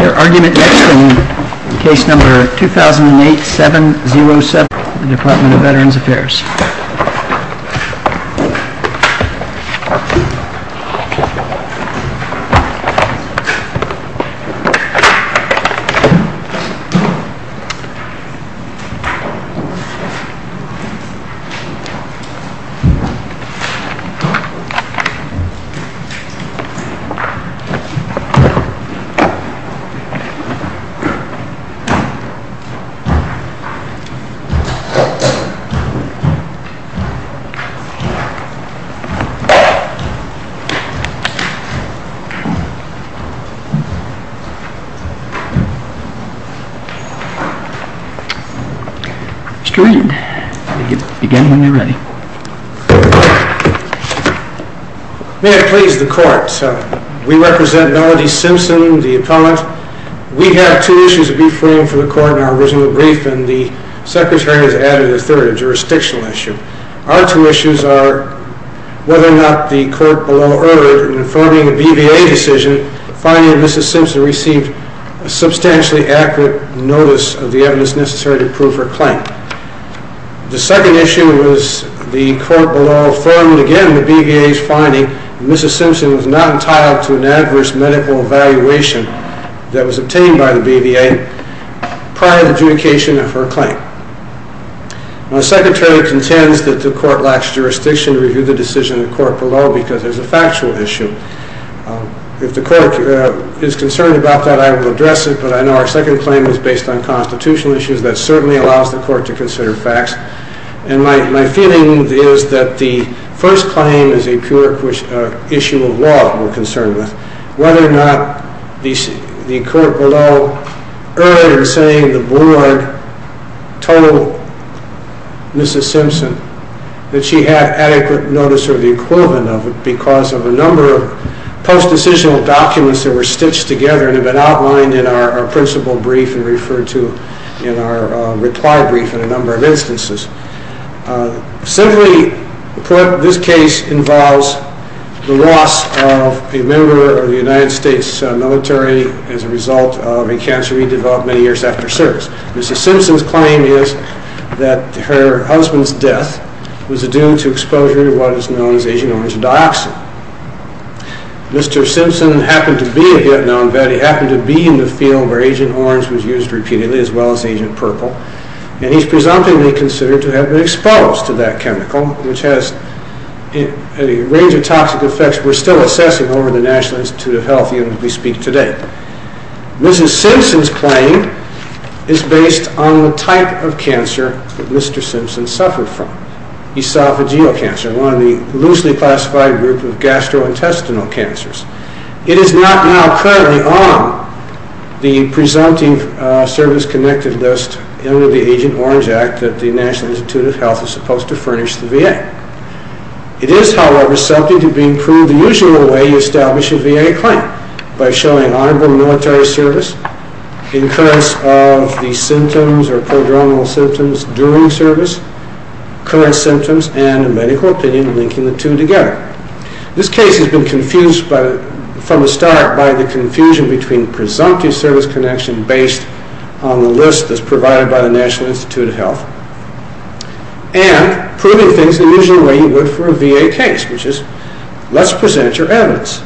Your argument next in case number 2008-707, the Department of Veterans Affairs. Mr. Redden? Began when you were ready. May it please the Court, sir, we represent Melody Simpson, the appellant. We have two issues to be framed for the Court in our original brief and the Secretary has added a third, a jurisdictional issue. Our two issues are whether or not the Court below ordered in informing the BVA decision finding that Mrs. Simpson received a substantially accurate notice of the evidence necessary to prove her claim. The second issue was the Court below affirmed again the BVA's finding that there was an adverse medical evaluation that was obtained by the BVA prior to the adjudication of her claim. The Secretary contends that the Court lacks jurisdiction to review the decision of the Court below because there's a factual issue. If the Court is concerned about that, I will address it, but I know our second claim is based on constitutional issues that certainly allows the Court to consider facts. And my feeling is that the whether or not the Court below earlier in saying the Board told Mrs. Simpson that she had adequate notice of the equivalent of it because of a number of post-decisional documents that were stitched together and have been outlined in our principal brief and referred to in our reply brief in a number of instances. Simply put, this case involves the loss of a member of the United States military as a result of a cancer he developed many years after service. Mrs. Simpson's claim is that her husband's death was due to exposure to what is known as Agent Orange Dioxin. Mr. Simpson happened to be a Vietnam vet. He happened to be in the field where Agent Orange was used repeatedly as well as Agent Purple, and he's presumptively considered to have been exposed to that chemical, which has a range of toxic effects we're still assessing over the National Institute of Health unit we speak today. Mrs. Simpson's claim is based on the type of cancer that Mr. Simpson suffered from, esophageal cancer, one of the loosely classified groups of gastrointestinal cancers. It is not now currently on the presumptive service-connected list under the Agent Orange Act that the National Institute of Health is looking to prove the usual way you establish a VA claim, by showing honorable military service, incurrence of the symptoms or prodromal symptoms during service, current symptoms, and a medical opinion linking the two together. This case has been confused from the start by the confusion between presumptive service connection based on the list that's provided by the National Institute of Health and proving things the usual way you would for a VA case, which is, let's present your evidence.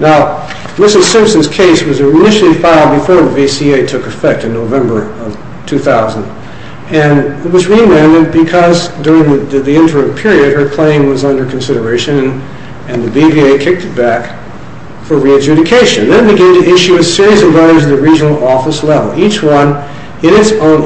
Now, Mrs. Simpson's case was initially filed before the VCA took effect in November of 2000, and it was re-landed because during the interim period her claim was under consideration, and the BVA kicked it back for re-adjudication. They began to issue a series of letters to the regional office level, each one in its own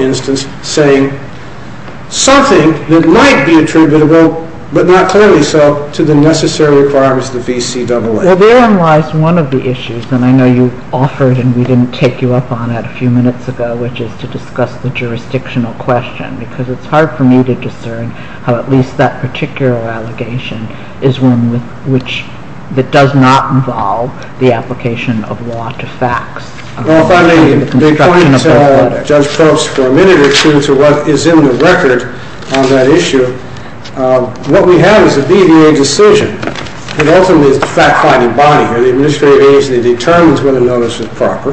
to the necessary requirements of the VCAA. Well, therein lies one of the issues, and I know you offered and we didn't take you up on it a few minutes ago, which is to discuss the jurisdictional question, because it's hard for me to discern how at least that particular allegation is one that does not involve the application of law to facts. Well, if I may, if I may point Judge Probst for a minute or two to what is in the record on that issue, what we have is a BVA decision. It ultimately is the fact-finding body here. The administrative agency determines whether the notice is proper,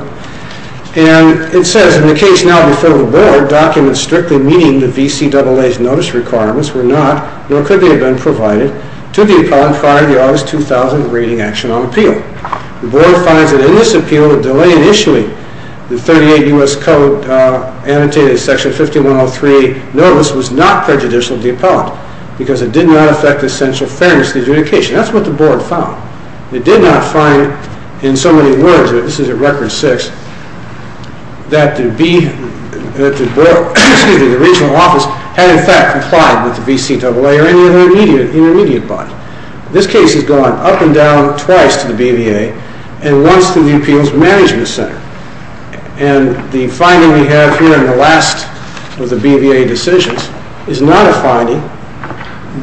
and it says, In the case now before the Board, documents strictly meeting the VCAA's notice requirements were not, nor could they have been, provided to the opponent prior to the August 2000 Rating Action on Appeal. The Board finds that in this appeal, the delay in issuing the 38 U.S. Code annotated Section 5103 notice was not prejudicial to the appellant, because it did not affect the essential fairness of the adjudication. That's what the Board found. It did not find, in so many words, this is at Record 6, that the regional office had in fact complied with the VCAA or any of the intermediate bodies. This case has gone up and down twice to the BVA and once to the Appeals Management Center. And the finding we have here in the last of the BVA decisions is not a finding.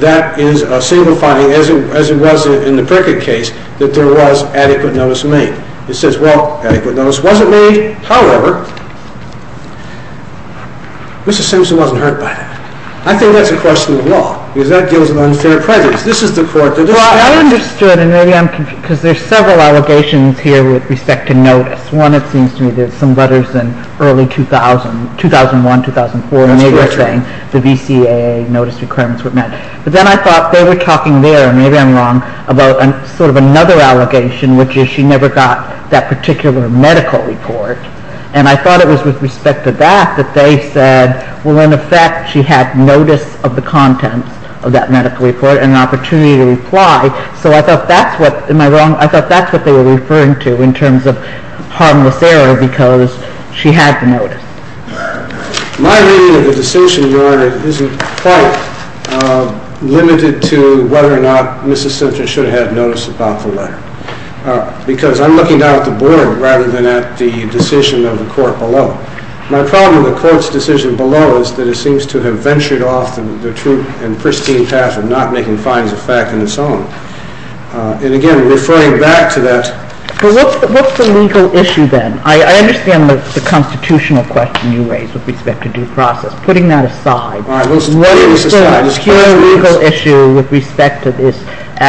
That is a single finding, as it was in the Prickett case, that there was adequate notice made. It says, well, adequate notice wasn't made. However, Mr. Simpson wasn't hurt by that. I think that's a question of law, because that gives an unfair prejudice. This is the court. Well, I understood, and maybe I'm confused, because there are several allegations here with respect to notice. One, it seems to me, there's some letters in early 2000, 2001, 2004, and they were saying the VCAA notice requirements were met. But then I thought they were talking there, and maybe I'm wrong, about sort of another allegation, which is she never got that particular medical report. And I thought it was with respect to that that they said, well, in effect, she had notice of the contents of that medical report and an opportunity to reply. So I thought that's what, am I wrong, I thought that's what they were referring to in terms of harmless error, because she had the notice. My reading of the decision, Your Honor, isn't quite limited to whether or not Mrs. Simpson should have had notice about the letter. Because I'm looking down at the board, rather than at the decision of the court below. My problem with the court's decision below is that it seems to have ventured off the true and pristine path of not making fines of fact on its own. And again, referring back to that. What's the legal issue then? I understand the constitutional question you raised with respect to due process. Putting that aside, what is the legal issue with respect to this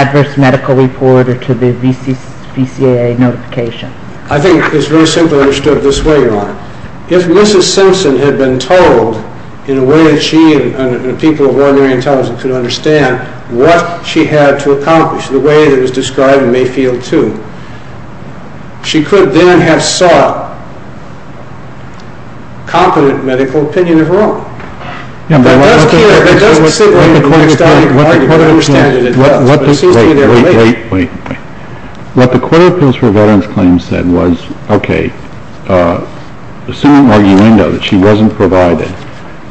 adverse medical report or to the VCAA notification? I think it's very simply understood this way, Your Honor. If Mrs. Simpson had been told, in a way that she and the people of ordinary intelligence could understand, what she had to accomplish, the way that was described in Mayfield 2, she could then have sought competent medical opinion of her own. That doesn't sit right in the next item. You could understand that it does. Wait, wait, wait. What the Court of Appeals for Veterans Claims said was, okay, assuming arguendo, that she wasn't provided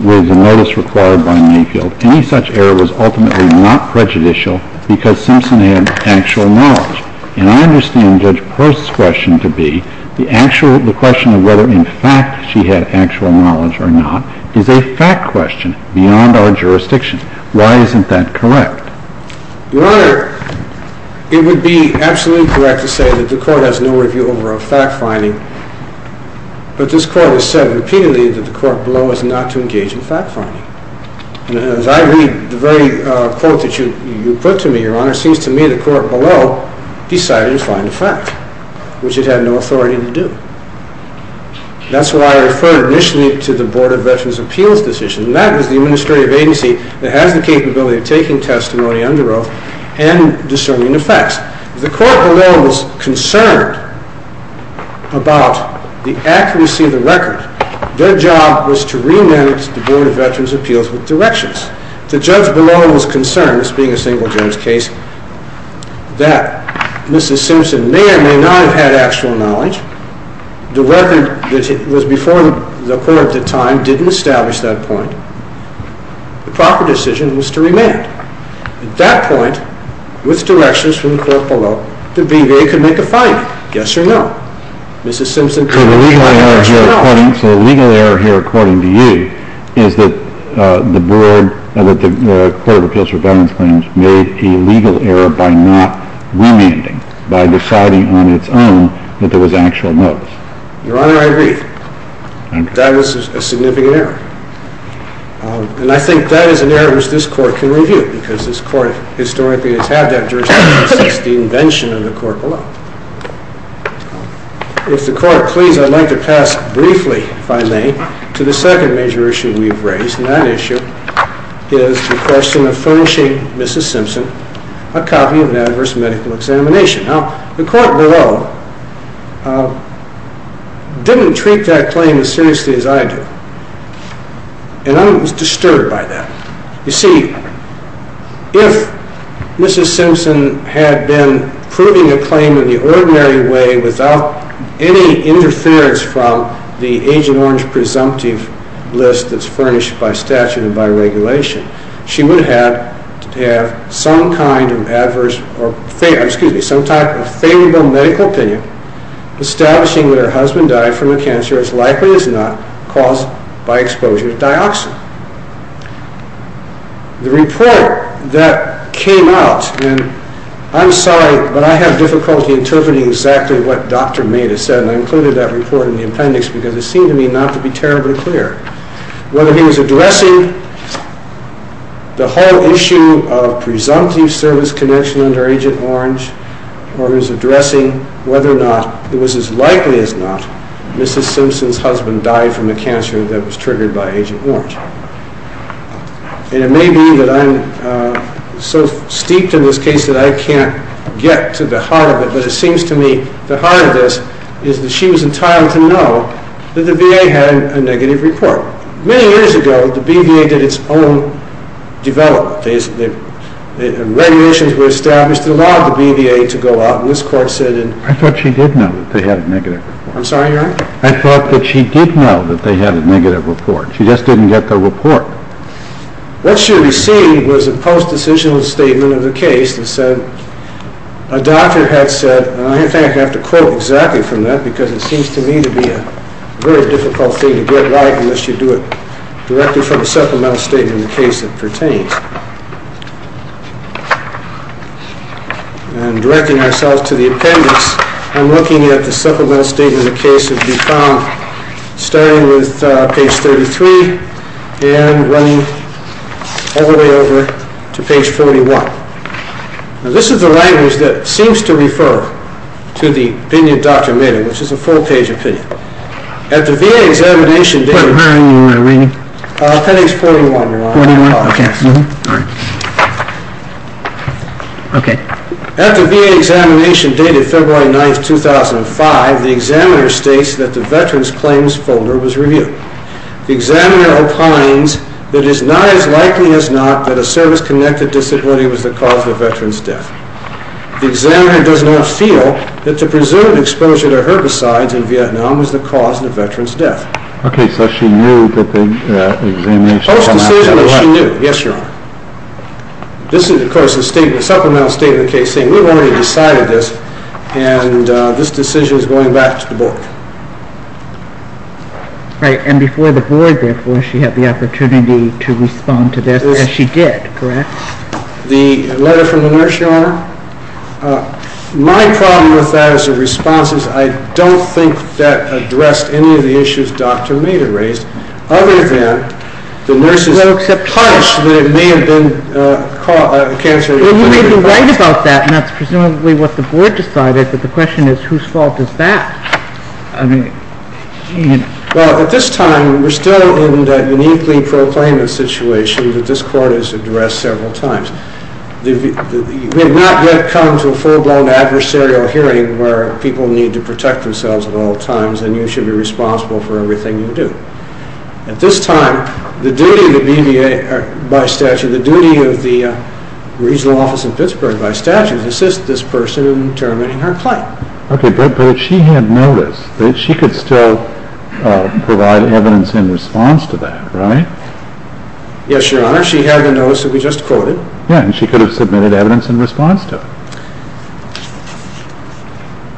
with a notice required by Mayfield, any such error was ultimately not prejudicial because Simpson had actual knowledge. And I understand Judge Post's question to be, the question of whether in fact she had actual knowledge or not, is a fact question beyond our jurisdiction. Why isn't that correct? Your Honor, it would be absolutely correct to say that the Court has no review over a fact finding, but this Court has said repeatedly that the Court below is not to engage in fact finding. And as I read the very quote that you put to me, Your Honor, it seems to me the Court below decided to find a fact, which it had no authority to do. That's why I referred initially to the Board of Veterans' Appeals decision, and that is the administrative agency that has the capability of taking testimony under oath and discerning the facts. The Court below was concerned about the accuracy of the record. Their job was to remand the Board of Veterans' Appeals with directions. The Judge below was concerned, this being a single-judge case, that Mrs. Simpson may or may not have had actual knowledge. The record that was before the Court at the time didn't establish that point. The proper decision was to remand. At that point, with directions from the Court below, the BVA could make a finding, yes or no. So the legal error here, according to you, is that the Board of Veterans' Appeals made a legal error by not remanding, by deciding on its own that there was actual notice. Your Honor, I agree. That was a significant error. And I think that is an error which this Court can review, because this Court historically has had that jurisdiction. It's the invention of the Court below. If the Court please, I'd like to pass briefly, if I may, to the second major issue we've raised, and that issue is the question of furnishing Mrs. Simpson a copy of an adverse medical examination. Now, the Court below didn't treat that claim as seriously as I do. And I'm disturbed by that. You see, if Mrs. Simpson had been proving a claim in the ordinary way without any interference from the Agent Orange presumptive list that's furnished by statute and by regulation, she would have to have some kind of adverse, excuse me, some type of favorable medical opinion establishing that her husband died from a cancer as likely as not caused by exposure to dioxin. The report that came out, and I'm sorry, but I have difficulty interpreting exactly what Dr. Maida said, and I included that report in the appendix because it seemed to me not to be terribly clear. Whether he was addressing the whole issue of presumptive service connection under Agent Orange, or he was addressing whether or not it was as likely as not Mrs. Simpson's husband died from a cancer that was triggered by Agent Orange. And it may be that I'm so steeped in this case that I can't get to the heart of it, but it seems to me the heart of this is that she was entitled to know that the VA had a negative report. Many years ago, the BVA did its own development. Regulations were established that allowed the BVA to go out, and this quote said... I thought she did know that they had a negative report. I'm sorry, Your Honor? I thought that she did know that they had a negative report. She just didn't get the report. What she received was a post-decisional statement of the case that said, a doctor had said, and I think I have to quote exactly from that because it seems to me to be a very difficult thing to get like unless you do it directly from a supplemental statement in the case it pertains. And directing ourselves to the appendix, I'm looking at the supplemental statement of the case as we found starting with page 33 and running all the way over to page 41. Now, this is the language that seems to refer to the opinion of Dr. Maynard, which is a full-page opinion. At the VA examination... What page are you reading? Appendix 41, Your Honor. 41? Okay. At the VA examination dated February 9, 2005, the examiner states that the Veterans Claims folder was reviewed. The examiner opines that it is not as likely as not that a service-connected disability was the cause of a veteran's death. The examiner does not feel that the presumed exposure to herbicides in Vietnam was the cause of the veteran's death. Okay, so she knew that the examination... Post-decisionally, she knew. Yes, Your Honor. This is, of course, a supplemental statement of the case saying we've already decided this and this decision is going back to the board. Right, and before the board, therefore, she had the opportunity to respond to this, as she did, correct? The letter from the nurse, Your Honor. My problem with that as a response is I don't think that addressed any of the issues Dr. Maynard raised other than the nurses... ...punished that it may have been a cancer... Well, you may be right about that, and that's presumably what the board decided, but the question is whose fault is that? Well, at this time, we're still in a uniquely proclaimed situation that this Court has addressed several times. We have not yet come to a full-blown adversarial hearing where people need to protect themselves at all times and you should be responsible for everything you do. At this time, the duty of the BBA by statute, the duty of the regional office in Pittsburgh by statute, is to assist this person in determining her claim. Okay, but she had notice that she could still provide evidence in response to that, right? Yes, Your Honor, she had the notice that we just quoted. Yeah, and she could have submitted evidence in response to it.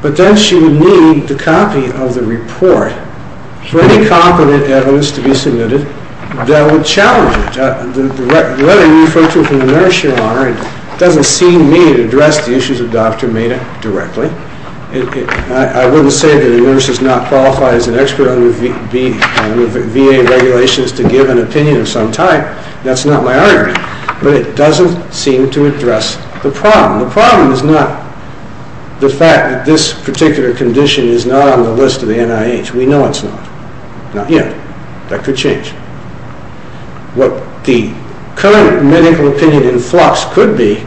But then she would need the copy of the report for any competent evidence to be submitted that would challenge it. The letter you referred to from the nurse, Your Honor, doesn't seem to address the issues the doctor made directly. I wouldn't say that a nurse is not qualified as an expert under VA regulations to give an opinion of some type. That's not my argument. But it doesn't seem to address the problem. The problem is not the fact that this particular condition is not on the list of the NIH. We know it's not, not yet. That could change. What the current medical opinion in flux could be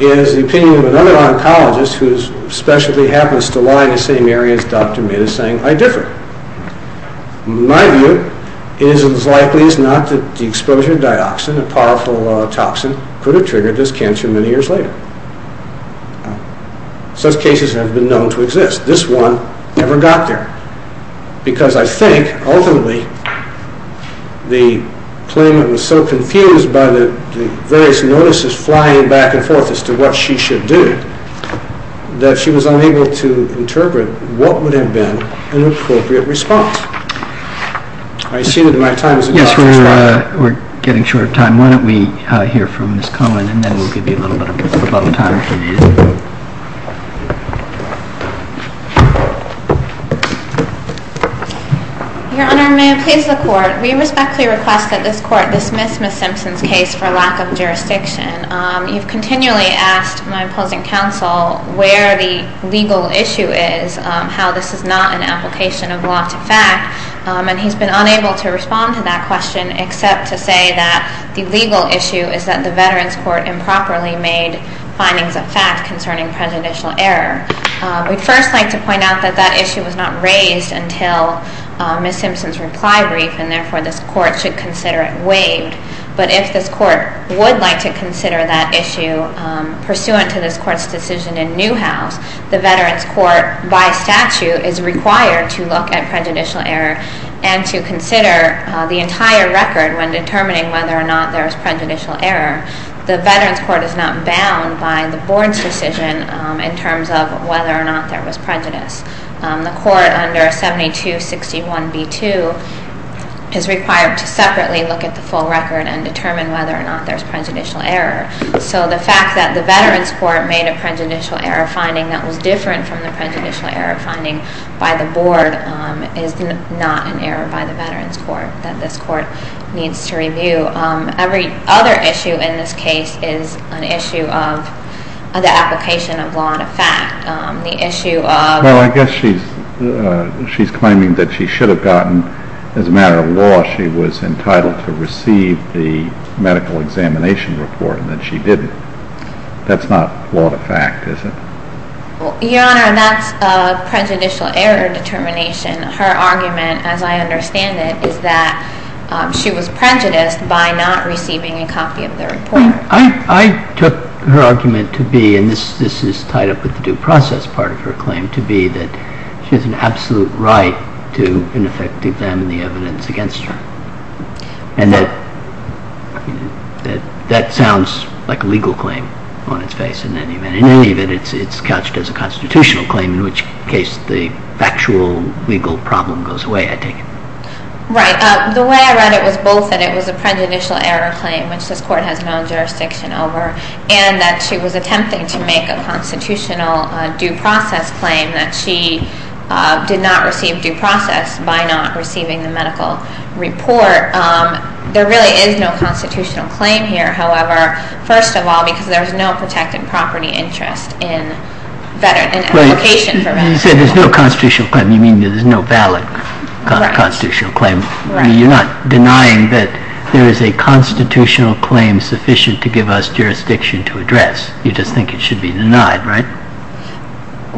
is the opinion of another oncologist who especially happens to lie in the same areas the doctor made a saying, I differ. My view is it's likely it's not that the exposure to dioxin, a powerful toxin, could have triggered this cancer many years later. Such cases have been known to exist. This one never got there. Because I think, ultimately, the claimant was so confused by the various notices flying back and forth as to what she should do, that she was unable to interpret what would have been an appropriate response. I see that my time is up. Yes, we're getting short of time. Why don't we hear from Ms. Conlon and then we'll give you a little bit of time. Your Honor, may I please the Court? We respectfully request that this Court dismiss Ms. Simpson's case for lack of jurisdiction. You've continually asked my opposing counsel where the legal issue is, how this is not an application of law to fact, and he's been unable to respond to that question except to say that the legal issue is that the Veterans Court improperly made findings of fact concerning prejudicial error. We'd first like to point out that that issue was not raised until Ms. Simpson's reply brief, and therefore this Court should consider it waived. But if this Court would like to consider that issue pursuant to this Court's decision in Newhouse, the Veterans Court, by statute, is required to look at prejudicial error and to consider the entire record when determining whether or not there's prejudicial error. The Veterans Court is not bound by the Board's decision in terms of whether or not there was prejudice. The Court under 7261b2 is required to separately look at the full record and determine whether or not there's prejudicial error. So the fact that the Veterans Court made a prejudicial error finding that was different from the prejudicial error finding by the Board is not an error by the Veterans Court that this Court needs to review. Every other issue in this case is an issue of the application of law to fact. The issue of... Well, I guess she's claiming that she should have gotten, as a matter of law, she was entitled to receive the medical examination report and that she didn't. That's not law to fact, is it? Your Honor, that's prejudicial error determination. Her argument, as I understand it, is that she was prejudiced by not receiving a copy of the report. I took her argument to be, and this is tied up with the due process part of her claim, to be that she has an absolute right to an effective exam of the evidence against her. And that... That sounds like a legal claim on its face in any event. In any event, it's couched as a constitutional claim in which case the factual legal problem goes away, I take it. Right. The way I read it was both that it was a prejudicial error claim, which this Court has no jurisdiction over, and that she was attempting to make a constitutional due process claim that she did not receive due process by not receiving the medical report. There really is no constitutional claim here, however, first of all, because there is no protected property interest in application for veterans. You said there's no constitutional claim. You mean there's no valid constitutional claim. You're not denying that there is a constitutional claim sufficient to give us jurisdiction to address. You just think it should be denied, right?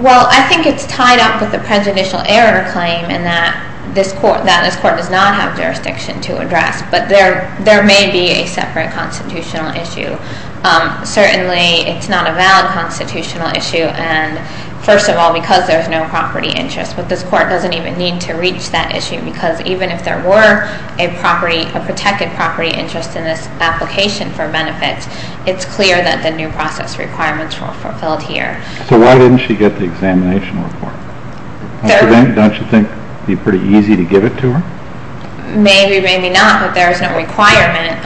Well, I think it's tied up with the prejudicial error claim and that this Court does not have jurisdiction to address. But there may be a separate constitutional issue. Certainly, it's not a valid constitutional issue, and first of all, because there's no property interest. But this Court doesn't even need to reach that issue because even if there were a protected property interest in this application for benefits, it's clear that the due process requirements were fulfilled here. So why didn't she get the examination report? Don't you think it would be pretty easy to give it to her? Maybe, maybe not, but there's no requirement,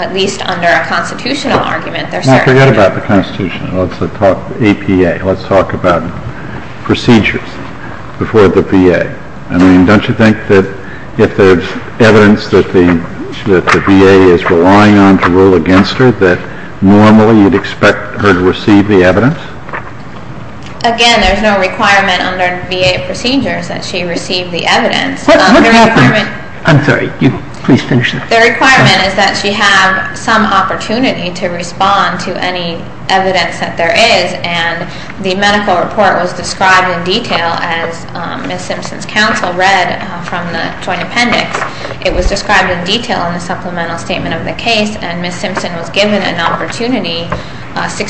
at least under a constitutional argument. Now forget about the Constitution. Let's talk APA. Let's talk about procedures before the VA. I mean, don't you think that if there's evidence that the VA is relying on to rule against her, that normally you'd expect her to receive the evidence? Again, there's no requirement under VA procedures that she receive the evidence. I'm sorry. Please finish. The requirement is that she have some opportunity to respond to any evidence that there is, and the medical report was described in detail as Ms. Simpson's counsel read from the Joint Appendix. It was described in detail in the supplemental statement of the case, and Ms. Simpson was given an opportunity, in the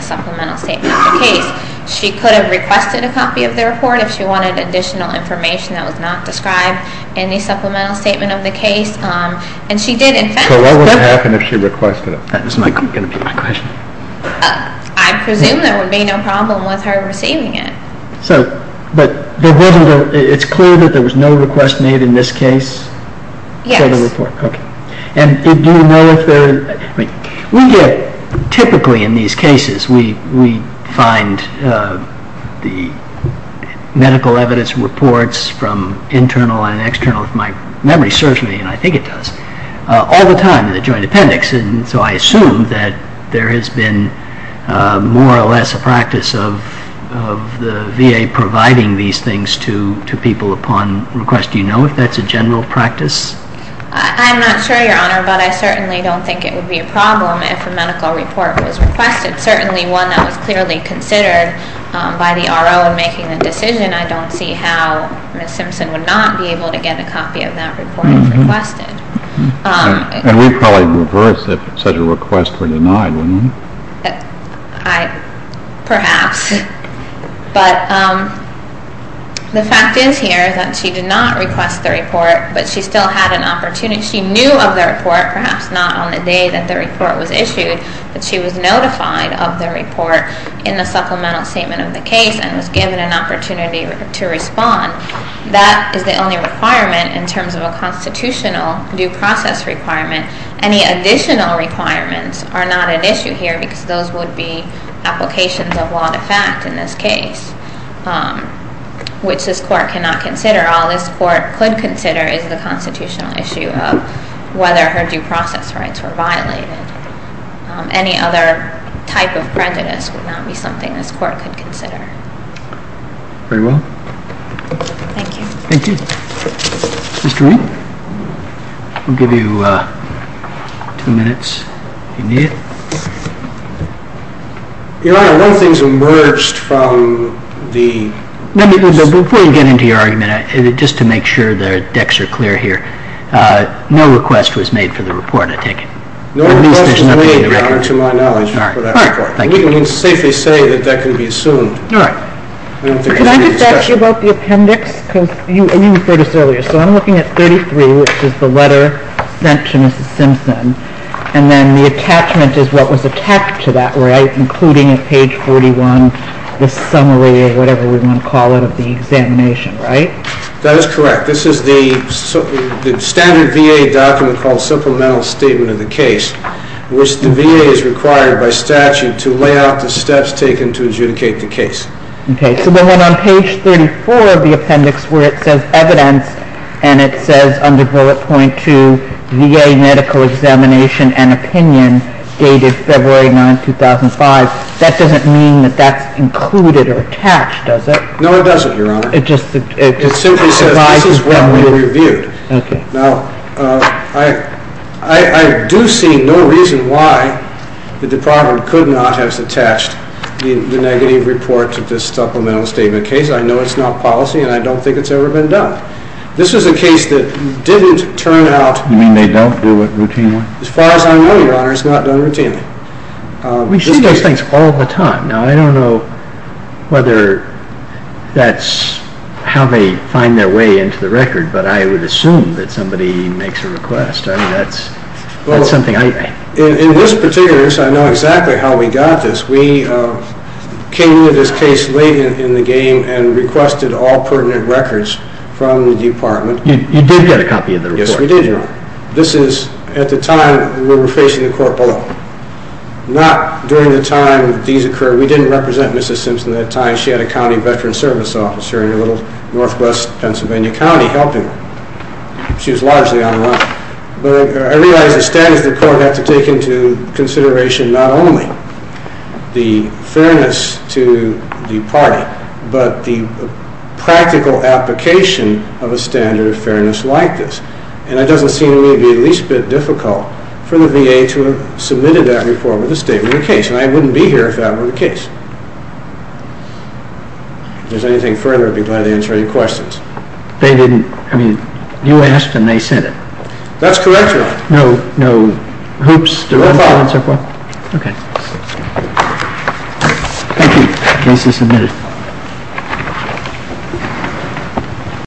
supplemental statement of the case. She could have requested a copy of the report if she wanted additional information that was not described in the supplemental statement of the case. So what would happen if she requested it? That's not going to be my question. I presume there would be no problem with her receiving it. But it's clear that there was no request made in this case? Yes. And do you know if there... We get, typically in these cases, we find the medical evidence reports from internal and external, if my memory serves me, and I think it does, all the time in the Joint Appendix. So I assume that there has been more or less a practice of the VA providing these things to people upon request. Do you know if that's a general practice? I'm not sure, Your Honor, but I certainly don't think it would be a problem if a medical report was requested. Certainly one that was clearly considered by the RO in making the decision. I don't see how Ms. Simpson would not be able to get a copy of that report if requested. And we'd probably reverse if such a request were denied, wouldn't we? Perhaps. But the fact is here that she did not request the report, but she knew of the report, perhaps not on the day that the report was issued, but she was notified of the report in the supplemental statement of the case and was given an opportunity to respond. That is the only requirement in terms of a constitutional due process requirement. Any additional requirements are not an issue here because those would be applications of law-to-fact in this case, which this Court cannot consider. All this Court could consider is the constitutional issue of whether her due process rights were violated. Any other type of prejudice would not be something this Court could consider. Very well. Thank you. Mr. Wink, we'll give you two minutes if you need it. Your Honor, one thing's emerged from the... Before you get into your argument, just to make sure the decks are clear here, no request was made for the report, I take it? No request was made, to my knowledge, for that report. We can safely say that that can be assumed. Could I just ask you about the appendix? You referred to this earlier. So I'm looking at 33, which is the letter sent to Mrs. Simpson, and then the attachment is what was attached to that, including at page 41 the summary or whatever we want to call it of the examination, right? That is correct. This is the standard VA document called Supplemental Statement of the Case, which the VA is required by statute to lay out the steps taken to adjudicate the case. Okay, so then on page 34 of the appendix where it says evidence, and it says under bullet point 2, VA medical examination and opinion dated February 9, 2005, that doesn't mean that that's included or attached, does it? No, it doesn't, Your Honor. It simply says this is what we reviewed. Now, I do see no reason why the Department could not have attached the negative report to this Supplemental Statement of the Case. I know it's not policy, and I don't think it's ever been done. This is a case that didn't turn out... You mean they don't do it routinely? As far as I know, Your Honor, it's not done routinely. We see those things all the time. Now, I don't know whether that's how they find their way into the record, but I would assume that somebody makes a request. Well, in this particular case, I know exactly how we got this. We came into this case late in the game and requested all permanent records from the Department. You did get a copy of the report? Yes, we did, Your Honor. At the time, we were facing the court below. Not during the time that these occurred. We didn't represent Mrs. Simpson at the time. She had a county veteran service officer in a little northwest Pennsylvania county helping her. She was largely unarmed. But I realize the status of the court has to take into consideration not only the fairness to the party, but the practical application of a standard of fairness like this. And it doesn't seem to me to be at least a bit difficult for the VA to have submitted that report with a Statement of the Case. And I wouldn't be here if that were the case. If there's anything further, I'd be glad to answer any questions. You asked and they sent it? That's correct, Your Honor. No hoops? Thank you. The case is submitted.